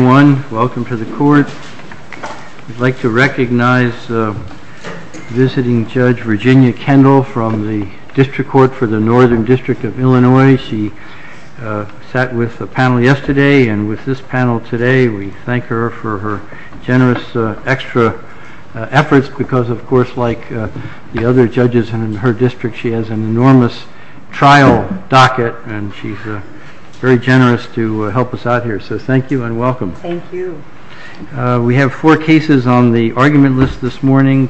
Welcome to the court. We'd like to recognize visiting Judge Virginia Kendall from the District Court for the Northern District of Illinois. She sat with the panel yesterday and with this panel today. We thank her for her generous extra efforts because, of course, like the other judges in her district, she has an enormous trial docket and she's very generous to help us out here. So thank you and welcome. Thank you. We have four cases on the argument list this morning.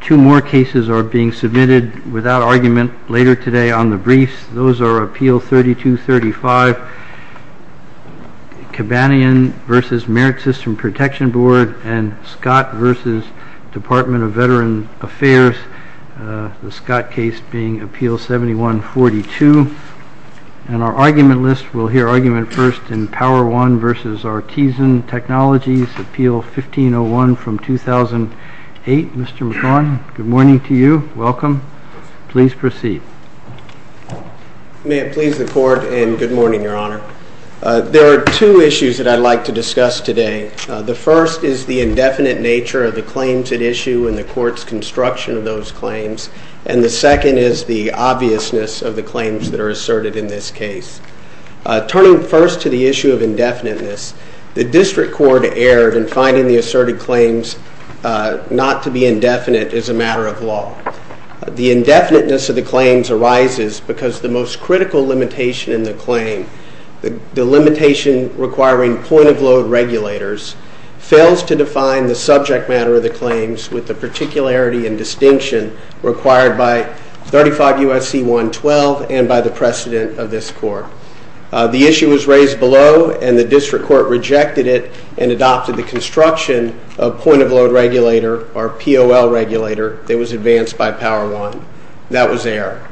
Two more cases are being submitted without argument later today on the briefs. Those are Appeal 3235, Cabanian v. Merit System Protection Board, and Scott v. Department of Veteran Affairs, the Scott case being Appeal 7142. And our argument list, we'll hear argument first in Power-One v. Artesyn Technologies, Appeal 1501 from 2008. Mr. McGaughan, good morning to you. Welcome. Please proceed. May it please the court and good morning, Your Honor. There are two issues that I'd like to discuss today. The first is the indefinite nature of the claims at issue and the court's construction of those claims. And the second is the obviousness of the claims that are asserted in this case. Turning first to the issue of indefiniteness, the District Court erred in finding the asserted claims not to be indefinite as a matter of law. The indefiniteness of the claims arises because the most critical limitation in the claim, the limitation requiring point-of-load regulators, fails to define the subject matter of the claims with the particularity and distinction required by 35 U.S.C. 112 and by the precedent of this court. The issue was raised below and the District Court rejected it and adopted the construction of point-of-load regulator or POL regulator that was advanced by Power-One. That was error.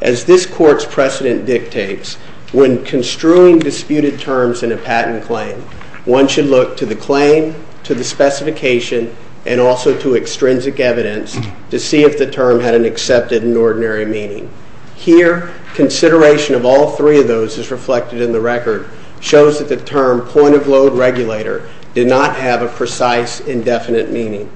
As this court's precedent dictates, when construing disputed terms in a patent claim, one should look to the claim, to the specification, and also to extrinsic evidence to see if the term had an accepted and ordinary meaning. Here, consideration of all three of those is reflected in the record, shows that the term point-of-load regulator did not have a precise indefinite meaning.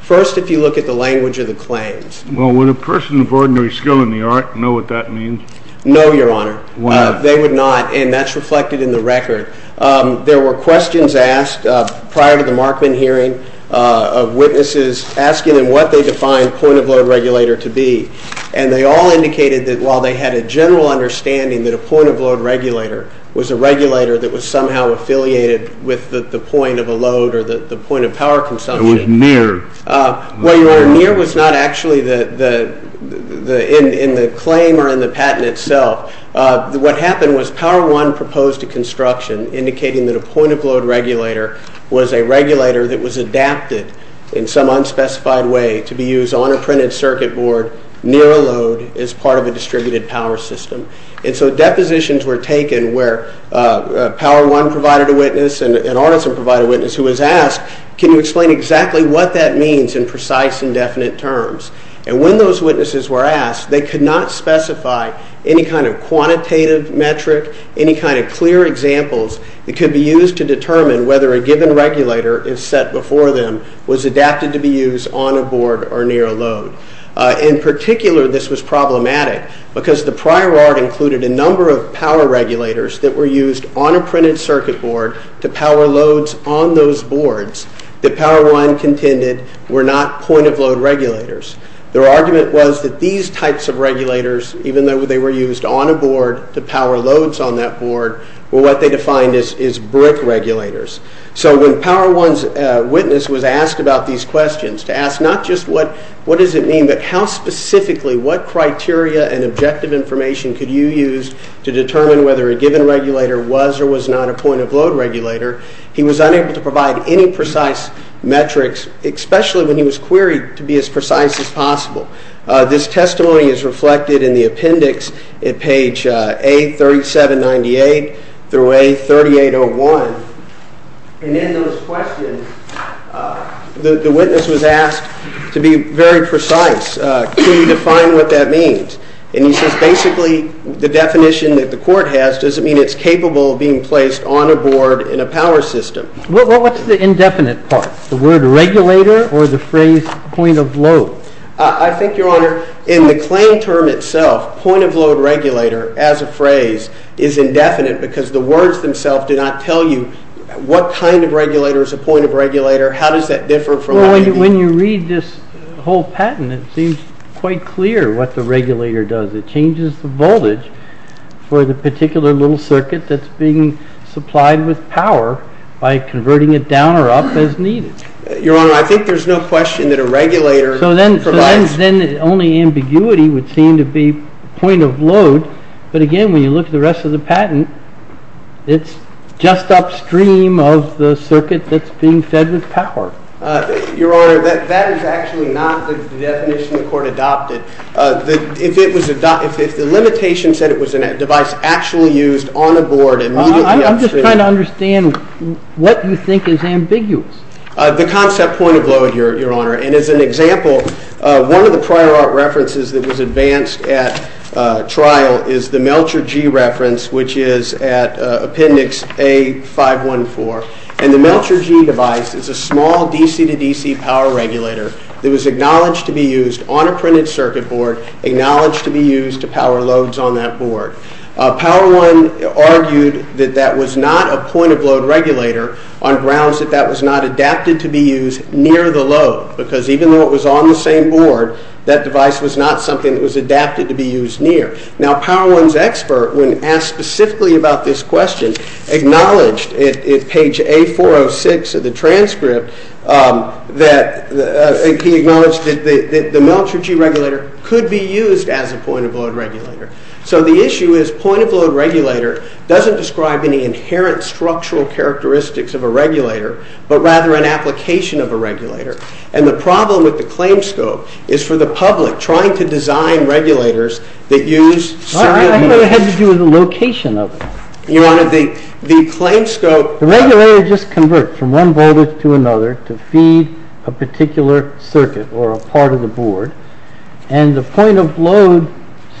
First, if you look at the language of the claims. Well, would a person of ordinary skill in the art know what that means? No, Your Honor. Why not? They would not and that's reflected in the record. There were questions asked prior to the Markman hearing of witnesses asking them what they defined point-of-load regulator to be and they all indicated that while they had a general understanding that a point-of-load regulator was a regulator that was somehow affiliated with the point of a load or the point of power consumption. It was near. Well, Your Honor, near was not actually in the claim or in the patent itself. What happened was Power-One proposed a construction indicating that a point-of-load regulator was a regulator that was adapted in some unspecified way to be used on a printed circuit board near a load as part of a distributed power system. And so depositions were taken where Power-One provided a witness and Arneson provided a witness who was asked, can you explain exactly what that means in precise indefinite terms? And when those witnesses were asked, they could not specify any kind of quantitative metric, any kind of clear examples that could be used to determine whether a given regulator is set before them was adapted to be used on a board or near a load. In particular, this was problematic because the prior art included a number of power regulators that were used on a printed circuit board to power loads on those boards that Power-One contended were not point-of-load regulators. Their argument was that these types of regulators, even though they were used on a board to power loads on that board, were what they defined as brick regulators. So when Power-One's witness was asked about these questions, to ask not just what does it mean, but how specifically, what criteria and objective information could you use to determine whether a given regulator was or was not a point-of-load regulator, he was unable to provide any precise metrics, especially when he was queried to be as precise as possible. This testimony is reflected in the appendix at page A3798 through A3801. And in those questions, the witness was asked to be very precise. Can you define what that means? And he says basically the definition that the court has doesn't mean it's capable of being placed on a board in a power system. Well, what's the indefinite part? The word regulator or the phrase point-of-load? I think, Your Honor, in the claim term itself, point-of-load regulator, as a phrase, is indefinite because the words themselves do not tell you what kind of regulator is a point-of-regulator, how does that differ from what it means. Well, when you read this whole patent, it seems quite clear what the regulator does. It changes the voltage for the particular little circuit that's being supplied with power by converting it down or up as needed. Your Honor, I think there's no question that a regulator provides... So then only ambiguity would seem to be point-of-load. But again, when you look at the rest of the patent, it's just upstream of the circuit that's being fed with power. Your Honor, that is actually not the definition the court adopted. If the limitation said it was a device actually used on a board... I'm just trying to understand what you think is ambiguous. The concept point-of-load, Your Honor, and as an example, one of the prior art references that was advanced at trial is the Melcher G reference, which is at appendix A-514. And the Melcher G device is a small DC-to-DC power regulator that was acknowledged to be used on a printed circuit board, acknowledged to be used to power loads on that board. Power One argued that that was not a point-of-load regulator on grounds that that was not adapted to be used near the load, because even though it was on the same board, that device was not something that was adapted to be used near. Now, Power One's expert, when asked specifically about this question, acknowledged at page A-406 of the transcript that the Melcher G regulator could be used as a point-of-load regulator. So the issue is point-of-load regulator doesn't describe any inherent structural characteristics of a regulator, but rather an application of a regulator. And the problem with the claim scope is for the public, trying to design regulators that use... Well, I think it had to do with the location of it. Your Honor, the claim scope... The regulator just converts from one voltage to another to feed a particular circuit or a part of the board, and the point-of-load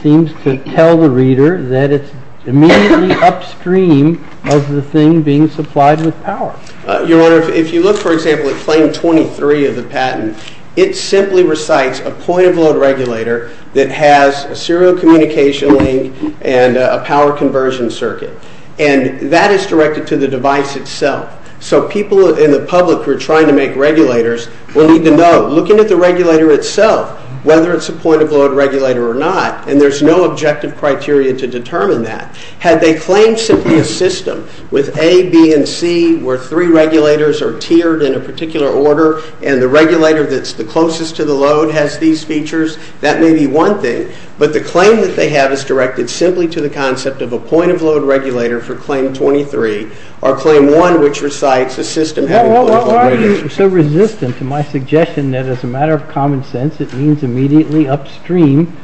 seems to tell the reader that it's immediately upstream of the thing being supplied with power. Your Honor, if you look, for example, at claim 23 of the patent, it simply recites a point-of-load regulator that has a serial communication link and a power conversion circuit, and that is directed to the device itself. So people in the public who are trying to make regulators will need to know, looking at the regulator itself, whether it's a point-of-load regulator or not, and there's no objective criteria to determine that. Had they claimed simply a system with A, B, and C, where three regulators are tiered in a particular order and the regulator that's the closest to the load has these features, that may be one thing, but the claim that they have is directed simply to the concept of a point-of-load regulator for claim 23 or claim 1, which recites a system having point-of-load regulators. Why are you so resistant to my suggestion that, as a matter of common sense, it means immediately upstream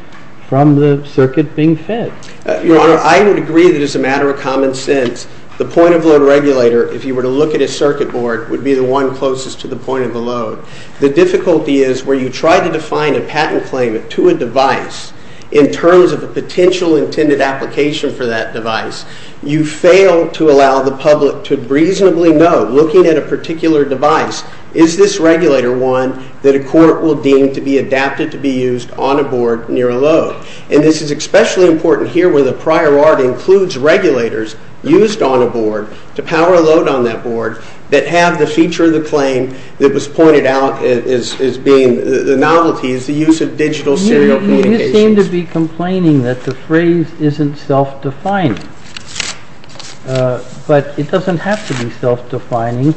from the circuit being fed? Your Honor, I would agree that, as a matter of common sense, the point-of-load regulator, if you were to look at a circuit board, would be the one closest to the point of the load. The difficulty is, where you try to define a patent claim to a device in terms of a potential intended application for that device, you fail to allow the public to reasonably know, looking at a particular device, is this regulator one that a court will deem to be adapted to be used on a board near a load? And this is especially important here, where the prior art includes regulators used on a board to power a load on that board that have the feature of the claim that was pointed out as being the novelty, is the use of digital serial communications. You seem to be complaining that the phrase isn't self-defining. But it doesn't have to be self-defining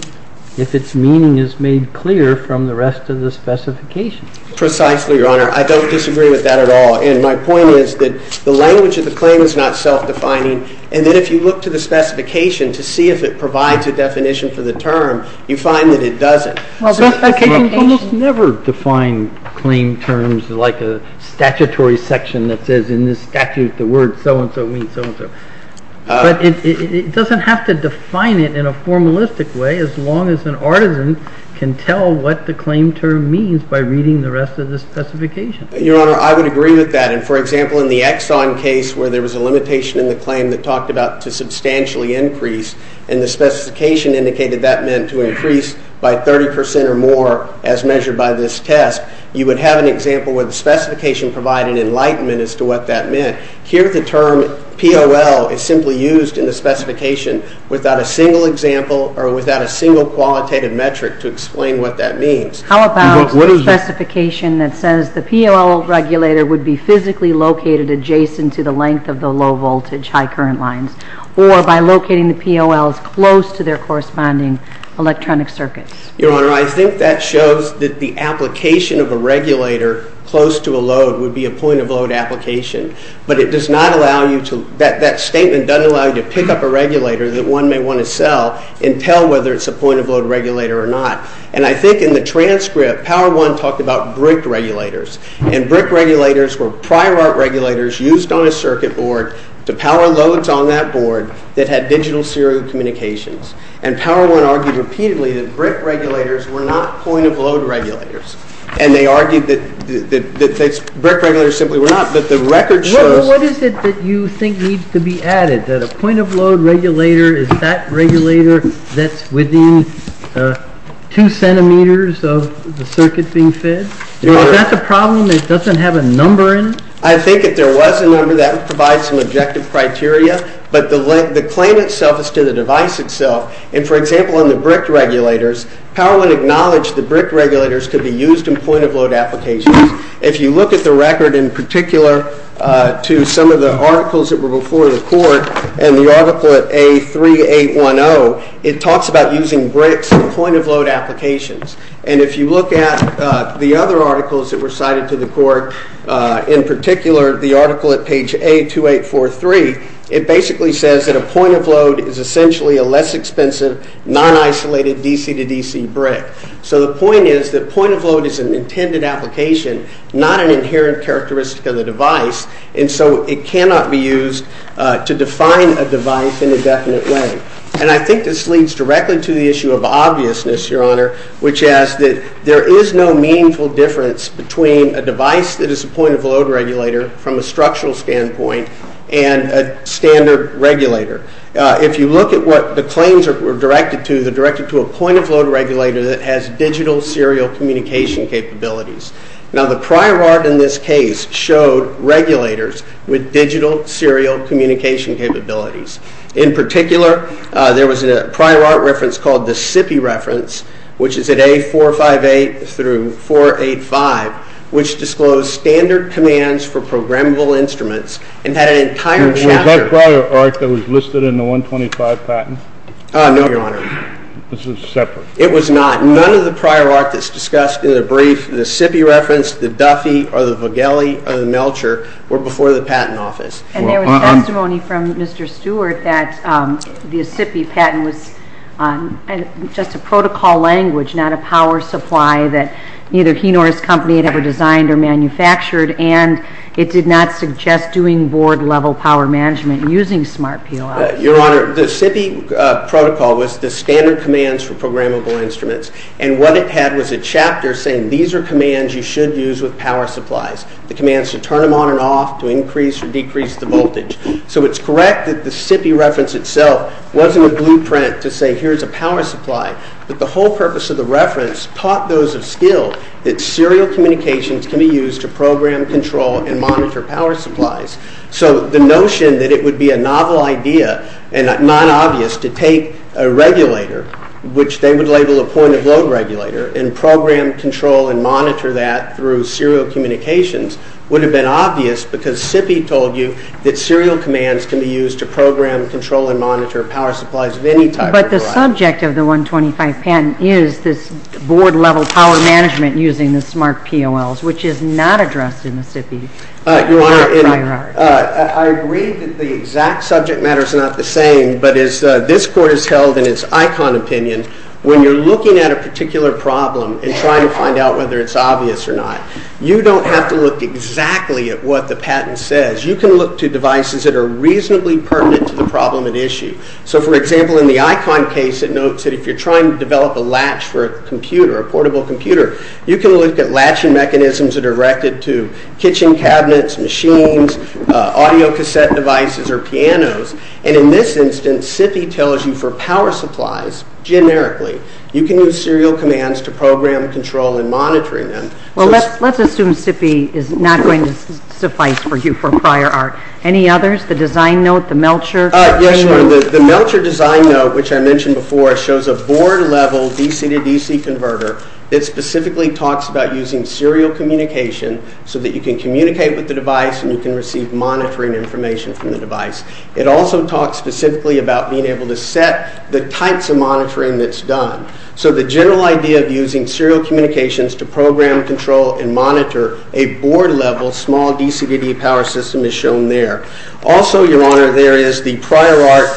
if its meaning is made clear from the rest of the specification. Precisely, Your Honor. I don't disagree with that at all. And my point is that the language of the claim is not self-defining, and that if you look to the specification to see if it provides a definition for the term, you find that it doesn't. The specification almost never defines claim terms like a statutory section that says in this statute the word so-and-so means so-and-so. But it doesn't have to define it in a formalistic way as long as an artisan can tell what the claim term means by reading the rest of the specification. Your Honor, I would agree with that. For example, in the Exxon case, where there was a limitation in the claim that talked about to substantially increase, and the specification indicated that meant to increase by 30% or more as measured by this test, you would have an example where the specification provided an enlightenment as to what that meant. Here the term POL is simply used in the specification without a single example or without a single qualitative metric to explain what that means. How about the specification that says the POL regulator would be physically located adjacent to the length of the low-voltage, high-current lines or by locating the POLs close to their corresponding electronic circuits? Your Honor, I think that shows that the application of a regulator close to a load would be a point-of-load application, but that statement doesn't allow you to pick up a regulator that one may want to sell and tell whether it's a point-of-load regulator or not. And I think in the transcript, Power I talked about brick regulators, and brick regulators were prior-art regulators used on a circuit board to power loads on that board that had digital serial communications. And Power I argued repeatedly that brick regulators were not point-of-load regulators, and they argued that brick regulators simply were not, but the record shows... What is it that you think needs to be added? That a point-of-load regulator is that regulator that's within 2 centimeters of the circuit being fed? Well, is that the problem? It doesn't have a number in it? I think if there was a number, that would provide some objective criteria, but the claim itself is to the device itself. And, for example, on the brick regulators, Power I acknowledged that brick regulators could be used in point-of-load applications. If you look at the record in particular to some of the articles that were before the Court, and the article at A3810, it talks about using bricks in point-of-load applications. And if you look at the other articles that were cited to the Court, in particular the article at page A2843, it basically says that a point-of-load is essentially a less expensive, non-isolated DC-to-DC brick. So the point is that point-of-load is an intended application, not an inherent characteristic of the device, and so it cannot be used to define a device in a definite way. And I think this leads directly to the issue of obviousness, Your Honor, which is that there is no meaningful difference between a device that is a point-of-load regulator from a structural standpoint and a standard regulator. If you look at what the claims were directed to, they're directed to a point-of-load regulator that has digital serial communication capabilities. Now, the prior art in this case showed regulators with digital serial communication capabilities. In particular, there was a prior art reference called the SIPI reference, which is at A458 through 485, which disclosed standard commands for programmable instruments and had an entire chapter... Was that prior art that was listed in the 125 patent? No, Your Honor. This was separate? It was not. None of the prior art that's discussed in the brief, the SIPI reference, the Duffy or the Vigeli or the Melcher, were before the Patent Office. And there was testimony from Mr. Stewart that the SIPI patent was just a protocol language, not a power supply that neither he nor his company had ever designed or manufactured, and it did not suggest doing board-level power management using smart POIs. Your Honor, the SIPI protocol was the standard commands for programmable instruments, and what it had was a chapter saying these are commands you should use with power supplies, the commands to turn them on and off, to increase or decrease the voltage. So it's correct that the SIPI reference itself wasn't a blueprint to say here's a power supply, but the whole purpose of the reference taught those of skill that serial communications can be used to program, control, and monitor power supplies. So the notion that it would be a novel idea and not obvious to take a regulator, which they would label a point-of-load regulator, and program, control, and monitor that through serial communications would have been obvious because SIPI told you that serial commands can be used to program, control, and monitor power supplies of any type. But the subject of the 125 patent is this board-level power management using the smart POLs, which is not addressed in the SIPI. Your Honor, I agree that the exact subject matter is not the same, but as this Court has held in its ICON opinion, when you're looking at a particular problem and trying to find out whether it's obvious or not, you don't have to look exactly at what the patent says. You can look to devices that are reasonably pertinent to the problem at issue. So, for example, in the ICON case, it notes that if you're trying to develop a latch for a computer, a portable computer, you can look at latching mechanisms that are directed to kitchen cabinets, machines, audio cassette devices, or pianos. And in this instance, SIPI tells you for power supplies, generically, you can use serial commands to program, control, and monitor them. Well, let's assume SIPI is not going to suffice for you for prior art. Any others? The design note, the Melcher? Yes, sure. The Melcher design note, which I mentioned before, shows a board-level DC-to-DC converter that specifically talks about using serial communication so that you can communicate with the device and you can receive monitoring information from the device. It also talks specifically about being able to set the types of monitoring that's done. So the general idea of using serial communications to program, control, and monitor a board-level small DC-to-DC power system is shown there. Also, Your Honor, there is the prior art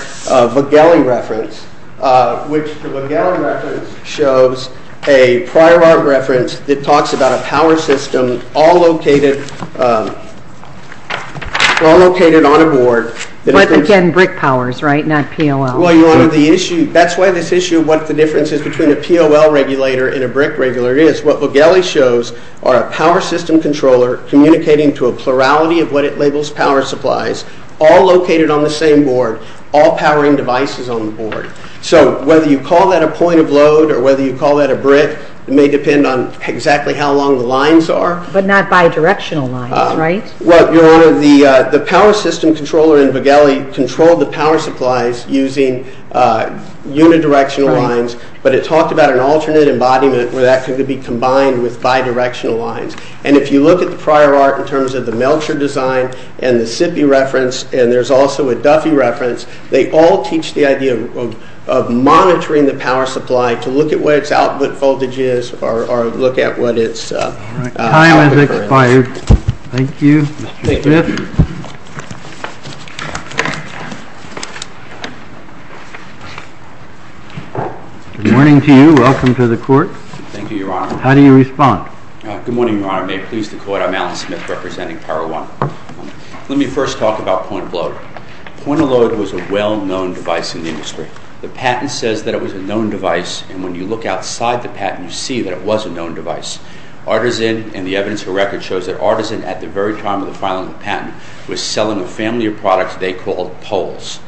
Vogeli reference, which the Vogeli reference shows a prior art reference that talks about a power system all located on a board. But again, brick powers, right? Not POL. Well, Your Honor, that's why this issue of what the difference is between a POL regulator and a brick regulator is. What Vogeli shows are a power system controller communicating to a plurality of what it labels power supplies all located on the same board, all powering devices on the board. So whether you call that a point of load or whether you call that a brick, it may depend on exactly how long the lines are. But not bidirectional lines, right? Well, Your Honor, the power system controller in Vogeli controlled the power supplies using unidirectional lines, but it talked about an alternate embodiment where that could be combined with bidirectional lines. And if you look at the prior art in terms of the Melcher design and the SIPI reference, and there's also a Duffy reference, they all teach the idea of monitoring the power supply to look at what its output voltage is or look at what its... All right. Time has expired. Thank you, Mr. Smith. Good morning to you. Welcome to the court. Thank you, Your Honor. How do you respond? Good morning, Your Honor. May it please the court, I'm Alan Smith representing Paro One. Let me first talk about point of load. Point of load was a well-known device in the industry. The patent says that it was a known device, and when you look outside the patent, you see that it was a known device. Artisan and the evidence of record shows that Artisan, at the very time of the filing of the patent, was selling a family of products they called Poles.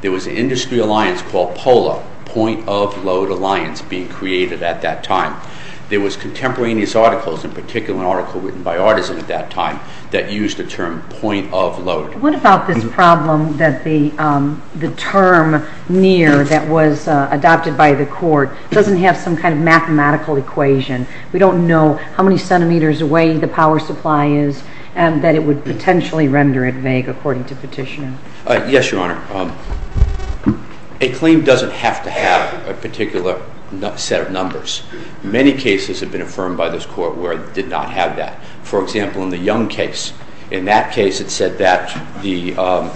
There was an industry alliance called Polo, point of load alliance being created at that time. There was a number of contemporaneous articles, in particular an article written by Artisan at that time that used the term point of load. What about this problem that the term near that was adopted by the court doesn't have some kind of mathematical equation? We don't know how many centimeters away the power supply is, and that it would potentially render it vague according to petitioner. Yes, Your Honor. A claim doesn't have to have a particular set of numbers. Many cases have been affirmed by this court where it did not have that. For example, in the Young case, in that case it said that the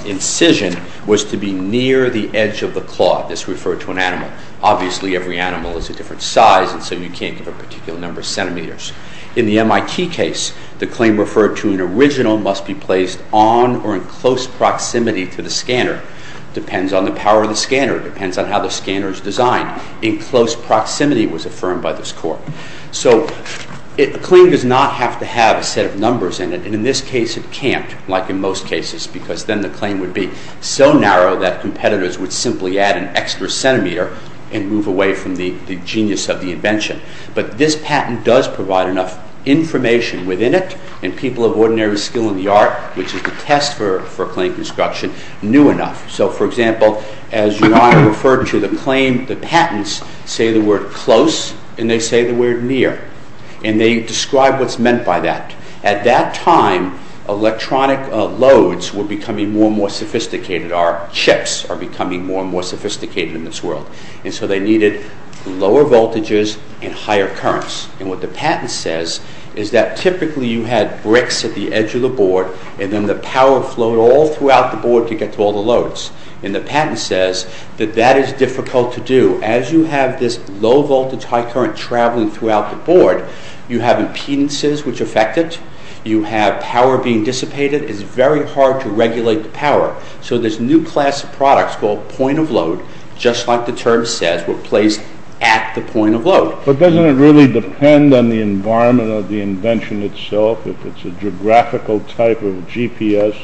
incision was to be near the edge of the claw. This referred to an animal. Obviously, every animal is a different size, and so you can't give a particular number of centimeters. In the MIT case, the claim referred to an original must be placed on or in close proximity to the scanner. It depends on the power of the scanner. It depends on how the scanner is designed. In close proximity was affirmed by this court. So, a claim does not have to have a set of numbers in it, and in this case it can't, like in most cases, because then the claim would be so narrow that competitors would simply add an extra centimeter and move away from the genius of the invention. But this patent does provide enough information within it, and people of ordinary skill in the art, which is a test for claim construction, knew enough. So, for example, as your Honor referred to the claim, the patents say the word close, and they say the word near. And they describe what's meant by that. At that time, electronic loads were becoming more and more sophisticated. Our chips are becoming more and more sophisticated in this world. And so they needed lower voltages and higher currents. And what the patent says is that typically you had bricks at the edge of the board, and then the power flowed all throughout the board to get to all the loads. And the patent says that that is difficult to do. As you have this low voltage, high current traveling throughout the board, you have impedances which affect it. You have power being dissipated. It's very hard to regulate the power. So this new class of products called point-of-load, just like the term says, were placed at the point-of-load. But doesn't it really depend on the environment of the invention itself, if it's a geographical type of GPS?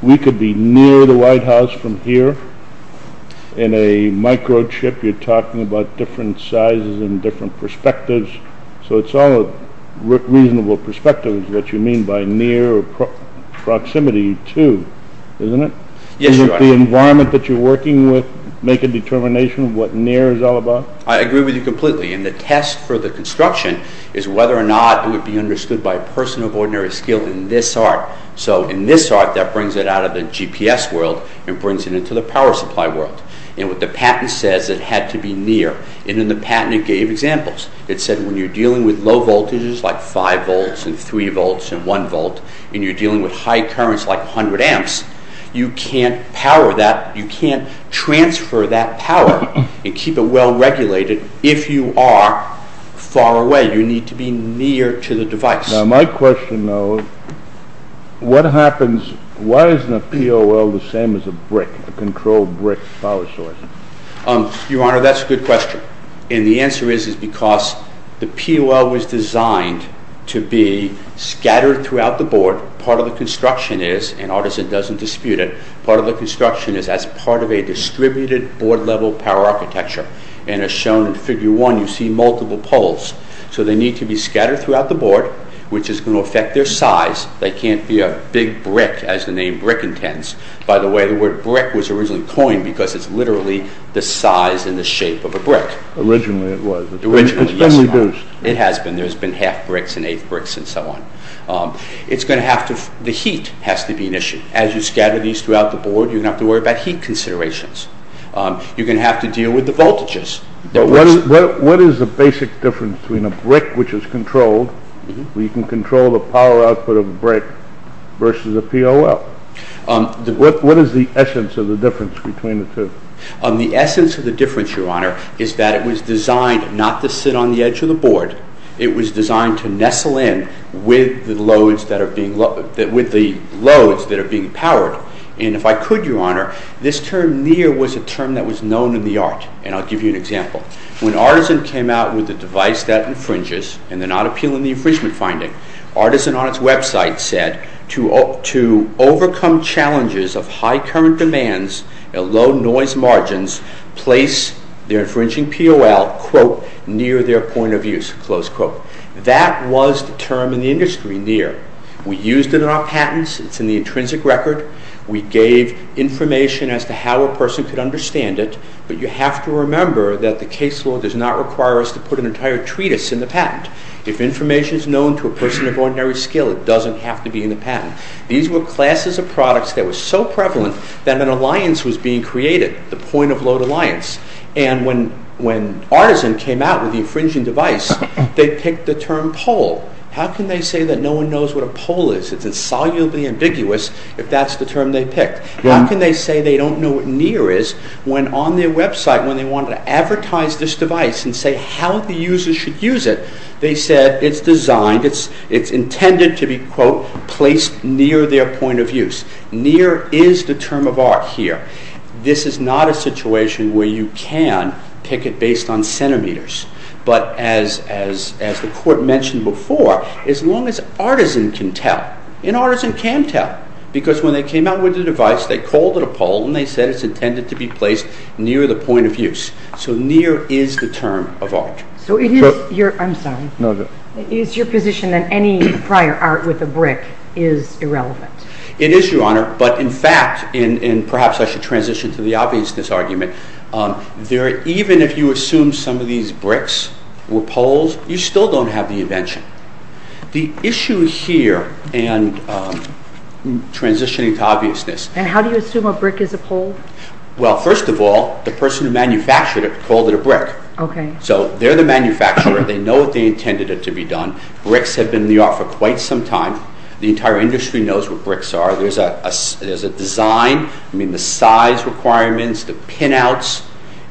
We could be near the White House from here. In a microchip you're talking about different sizes and different perspectives. So it's all reasonable perspectives, what you mean by near or proximity to, isn't it? Does the environment that you're working with make a determination of what near is all about? I agree with you completely. And the test for the construction is whether or not it would be understood by a person of ordinary skill in this art. So in this art that brings it out of the GPS world and brings it into the power supply world. And what the patent says, it had to be near. And in the patent it gave examples. It said when you're dealing with low voltages like 5 volts and 3 volts and 1 volt and you're dealing with high currents like 100 amps, you can't transfer that power and keep it well regulated if you are far away. You need to be near to the device. Now my question, though, what happens, why isn't a POL the same as a brick, a controlled brick power source? Your Honor, that's a good question. And the answer is because the POL was designed to be scattered throughout the board. Part of the construction is, and Artisan doesn't dispute it, part of the construction is as part of a distributed board-level power architecture. And as shown in Figure 1, you see multiple POLs. So they need to be scattered throughout the board, which is going to affect their size. They can't be a big brick, as the name brick intends. By the way, you don't have to worry about the board, you don't have to worry about heat considerations. You're going to have to deal with the voltages. What is the basic difference between a brick which is controlled, where you can control the power output of a brick versus a POL? What is essence of the difference between the two? The essence of the difference, Your Honor, is that it was designed not to sit on the edge of the board. It was designed to nestle in with the loads that are being powered. And if I could, Your Honor, this term near was a term known in the art. When Artisan came out with the device that infringes, Artisan said to overcome challenges of high voltage and high current. The transients were an issue. There were a number of different issues. So when you take this POL and you put it close to the loads, it may be powering two or three or four loads. It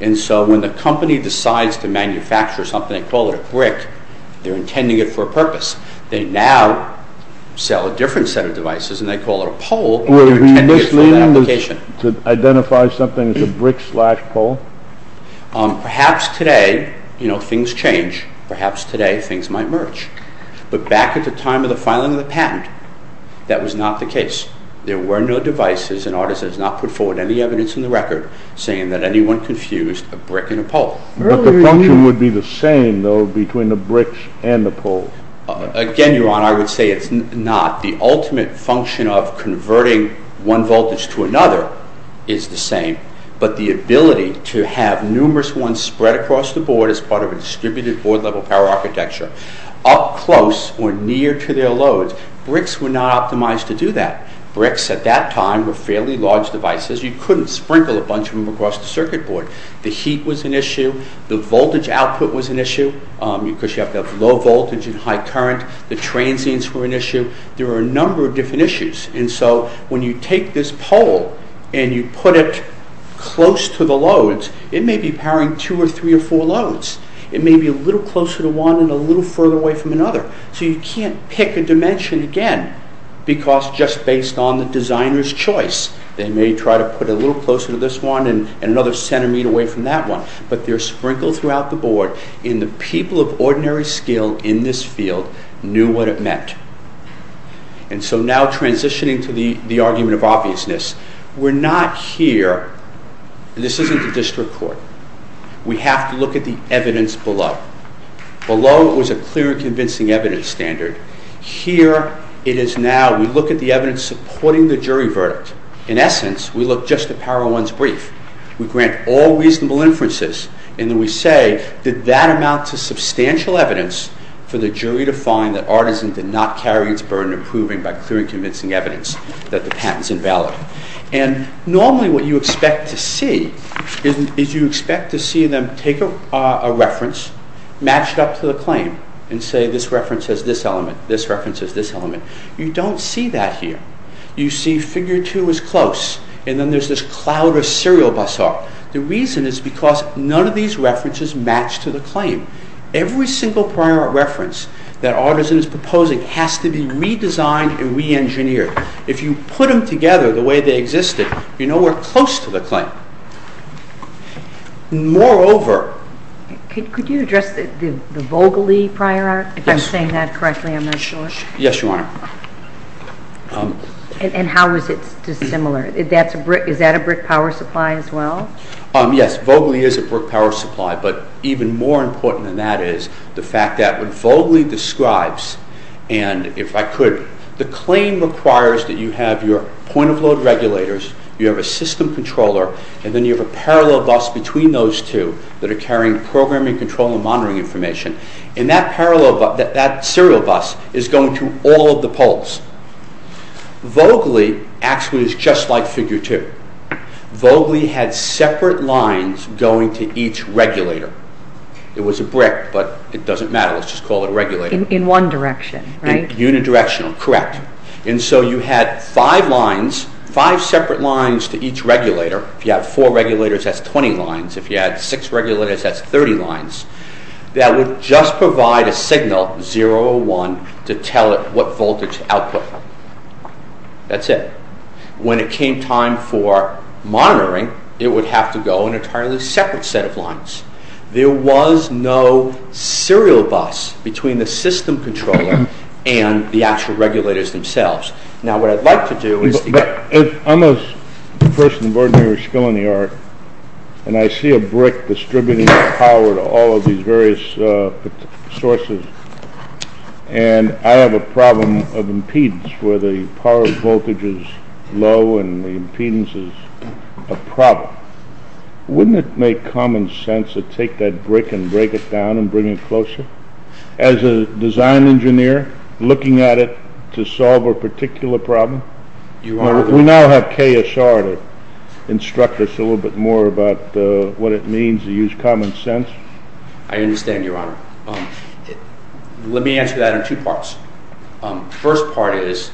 may be a little closer to one and a little closer to two. So the ordinary skill in this field knew what it meant. So now transitioning to the argument of obviousness, we're not here and this isn't the district court. We have to look at the evidence below. Below was a clear and convincing evidence standard. Here it is now we look at the evidence supporting the jury verdict. In essence we look at the brief. We grant all reasonable inferences and we say that that amounts to substantial evidence for the jury to find that Artisan did not carry its burden of proving by clear and convincing evidence that the patent is invalid. Normally what you expect to see is you expect to see them take a reference matched up to the claim and say this reference has this element, this reference has this element. You don't see that here. You see figure two is close and then there is this cloud of serial bus art. The reason is because none of these references match to the claim. Every single prior art reference that Artisan is proposing has to be redesigned and reengineered. If you put them together the way they existed you are nowhere close to the claim. Moreover... Could you address the Vogli prior art if I'm saying that Vogli describes and if I could the claim requires that you have your point of load regulators, you have a system controller and then you have a parallel bus between those two that are carrying programming control and monitoring information and that serial bus is going to all of the poles. Vogli actually is just like figure two. Vogli had separate lines going to each regulator. It was a brick but it doesn't matter. Let's just call it a pole. Let me answer that in two parts. The first part is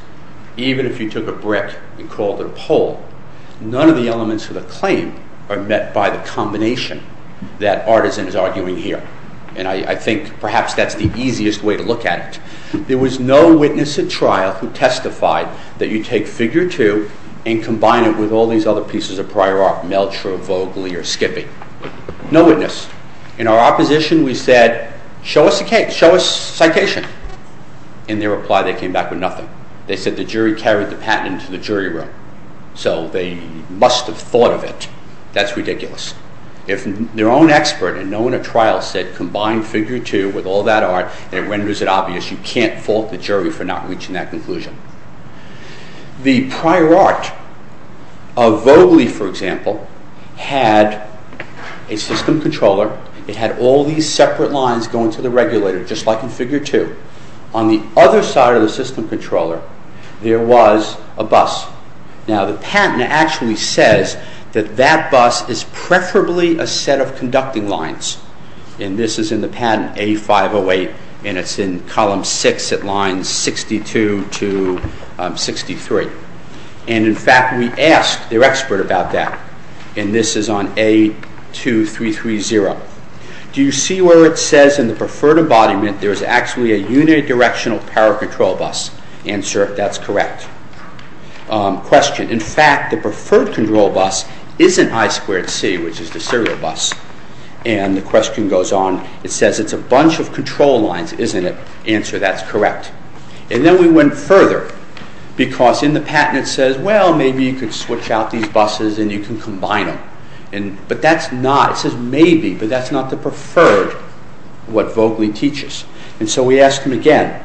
even if you took a brick and called it a pole, none of the elements of the claim are met by the combination that Artisan is arguing here and I think perhaps that's the easiest way to look at it. There was no witness at trial who testified that you take figure two and combine it with all these other pieces of prior art. No witness. In our opposition we said show us citation. In their reply they came back with nothing. They said the jury carried the patent into the jury room. So they must have thought of it. That's ridiculous. If their own expert and no one at trial said combine figure two with all that prior art and it renders it obvious you can't fault the jury for not reaching that conclusion. The prior art of Vogley for example had a system controller it had all these separate lines going to the regulator just like in figure two. On the other side of the system controller there was a bus. Now the patent actually says that that bus is preferably a set of conducting lines. And this is in the patent A508 and it's in column six at line 62 to 63. And in fact we asked their expert about that and this is on A2330. Do you see where it says in the preferred embodiment there is actually a unidirectional power control bus? Answer, that's correct. Question, in fact the preferred control bus isn't I2C which is the serial bus. And the question goes on, it says it's a bunch of control lines, isn't it? Answer, that's correct. And then we went further because in the patent it says well maybe you can switch out these buses and you can combine them. But that's not, it says maybe, but that's not the preferred what Vogley teaches. And so we asked them again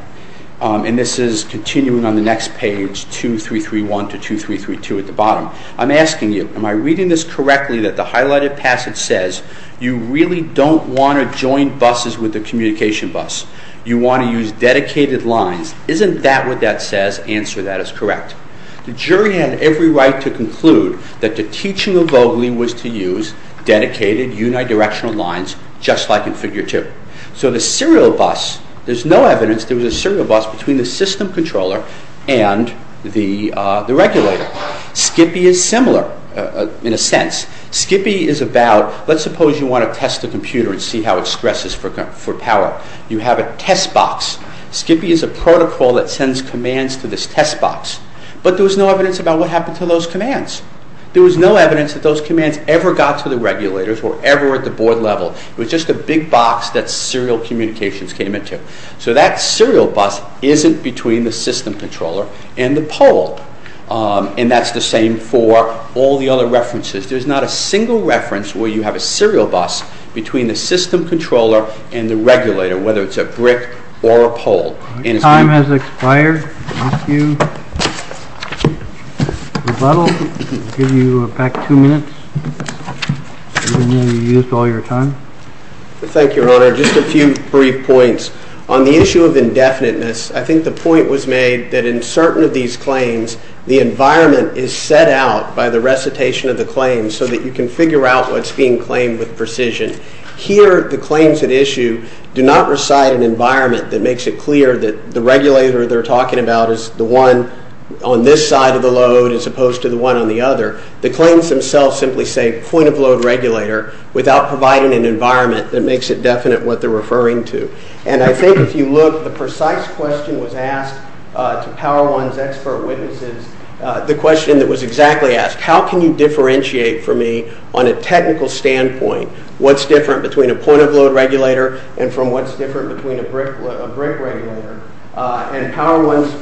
and this is continuing on the next page 2331 to 2332 at the bottom. I'm asking you, am I reading this correctly that the highlighted passage says you really don't want to join buses with the communication bus? You want to use dedicated lines? Isn't that what that says? Answer, that is correct. The jury had every right to conclude that the teaching of Vogley was to use dedicated unidirectional lines just like in figure 2. So the serial bus, there's no evidence there was a serial bus between the system controller and the regulator. Skippy is similar in a sense. Skippy is about, let's suppose you want to test the computer and see how it stresses for power. You have a test box. Skippy is a protocol that sends commands to this test box. But there was no evidence about what happened to those commands. There was no evidence that those commands ever got to the regulators or ever at the board level. It was just a big box that serial communications came into. So that is a single reference where you have a serial bus between the system controller and the regulator, whether it's a brick or a pole. Your time has expired. I'll give you back two minutes. I didn't know you used all your time. Thank you, Your Honor. Just a few brief points. On the one hand, you can figure out what's being claimed with precision. Here, the claims at issue do not reside in an environment that makes it clear that the regulator they're talking about is the one on this side of the load as opposed to the one on the other. The claims themselves do not simply say point-of-load regulator without providing an environment that makes it definite what they're referring to. I think if you look, the precise question was asked to Power One's expert witnesses, the question that was exactly asked, how can you differentiate from me on a technical standpoint what's different between a point-of-load regulator and from what's different between a brick regulator. And Power One's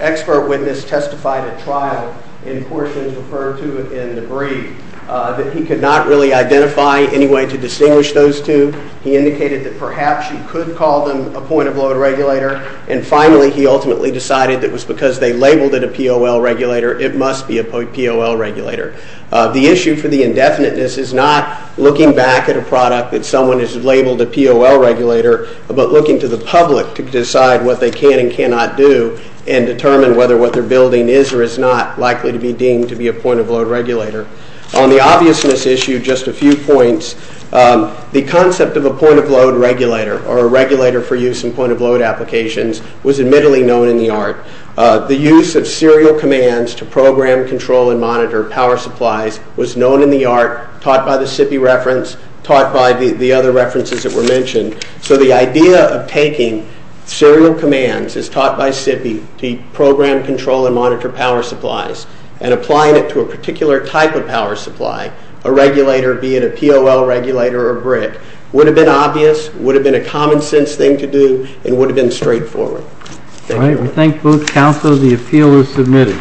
expert witness testified at trial in portions referred to in debris that he could not really identify any way to distinguish those two. He indicated that perhaps he could call them a point-of-load regulator and finally he ultimately decided because they labeled it a POL regulator it must be a POL regulator. The issue for the indefiniteness is not looking back at a product that someone has labeled a POL regulator but looking to the public to decide what they can and cannot do and determine whether what they're building is or is not likely to be deemed to be a POL regulator. On the obviousness issue, just a few points, the concept of a POL regulator was admittedly known in the art. The use of serial commands is taught by SIPI and applying it to a particular type of power supply would have been obvious and a common sense thing to do. It would have been straightforward. We thank both counsel. The appeal is submitted.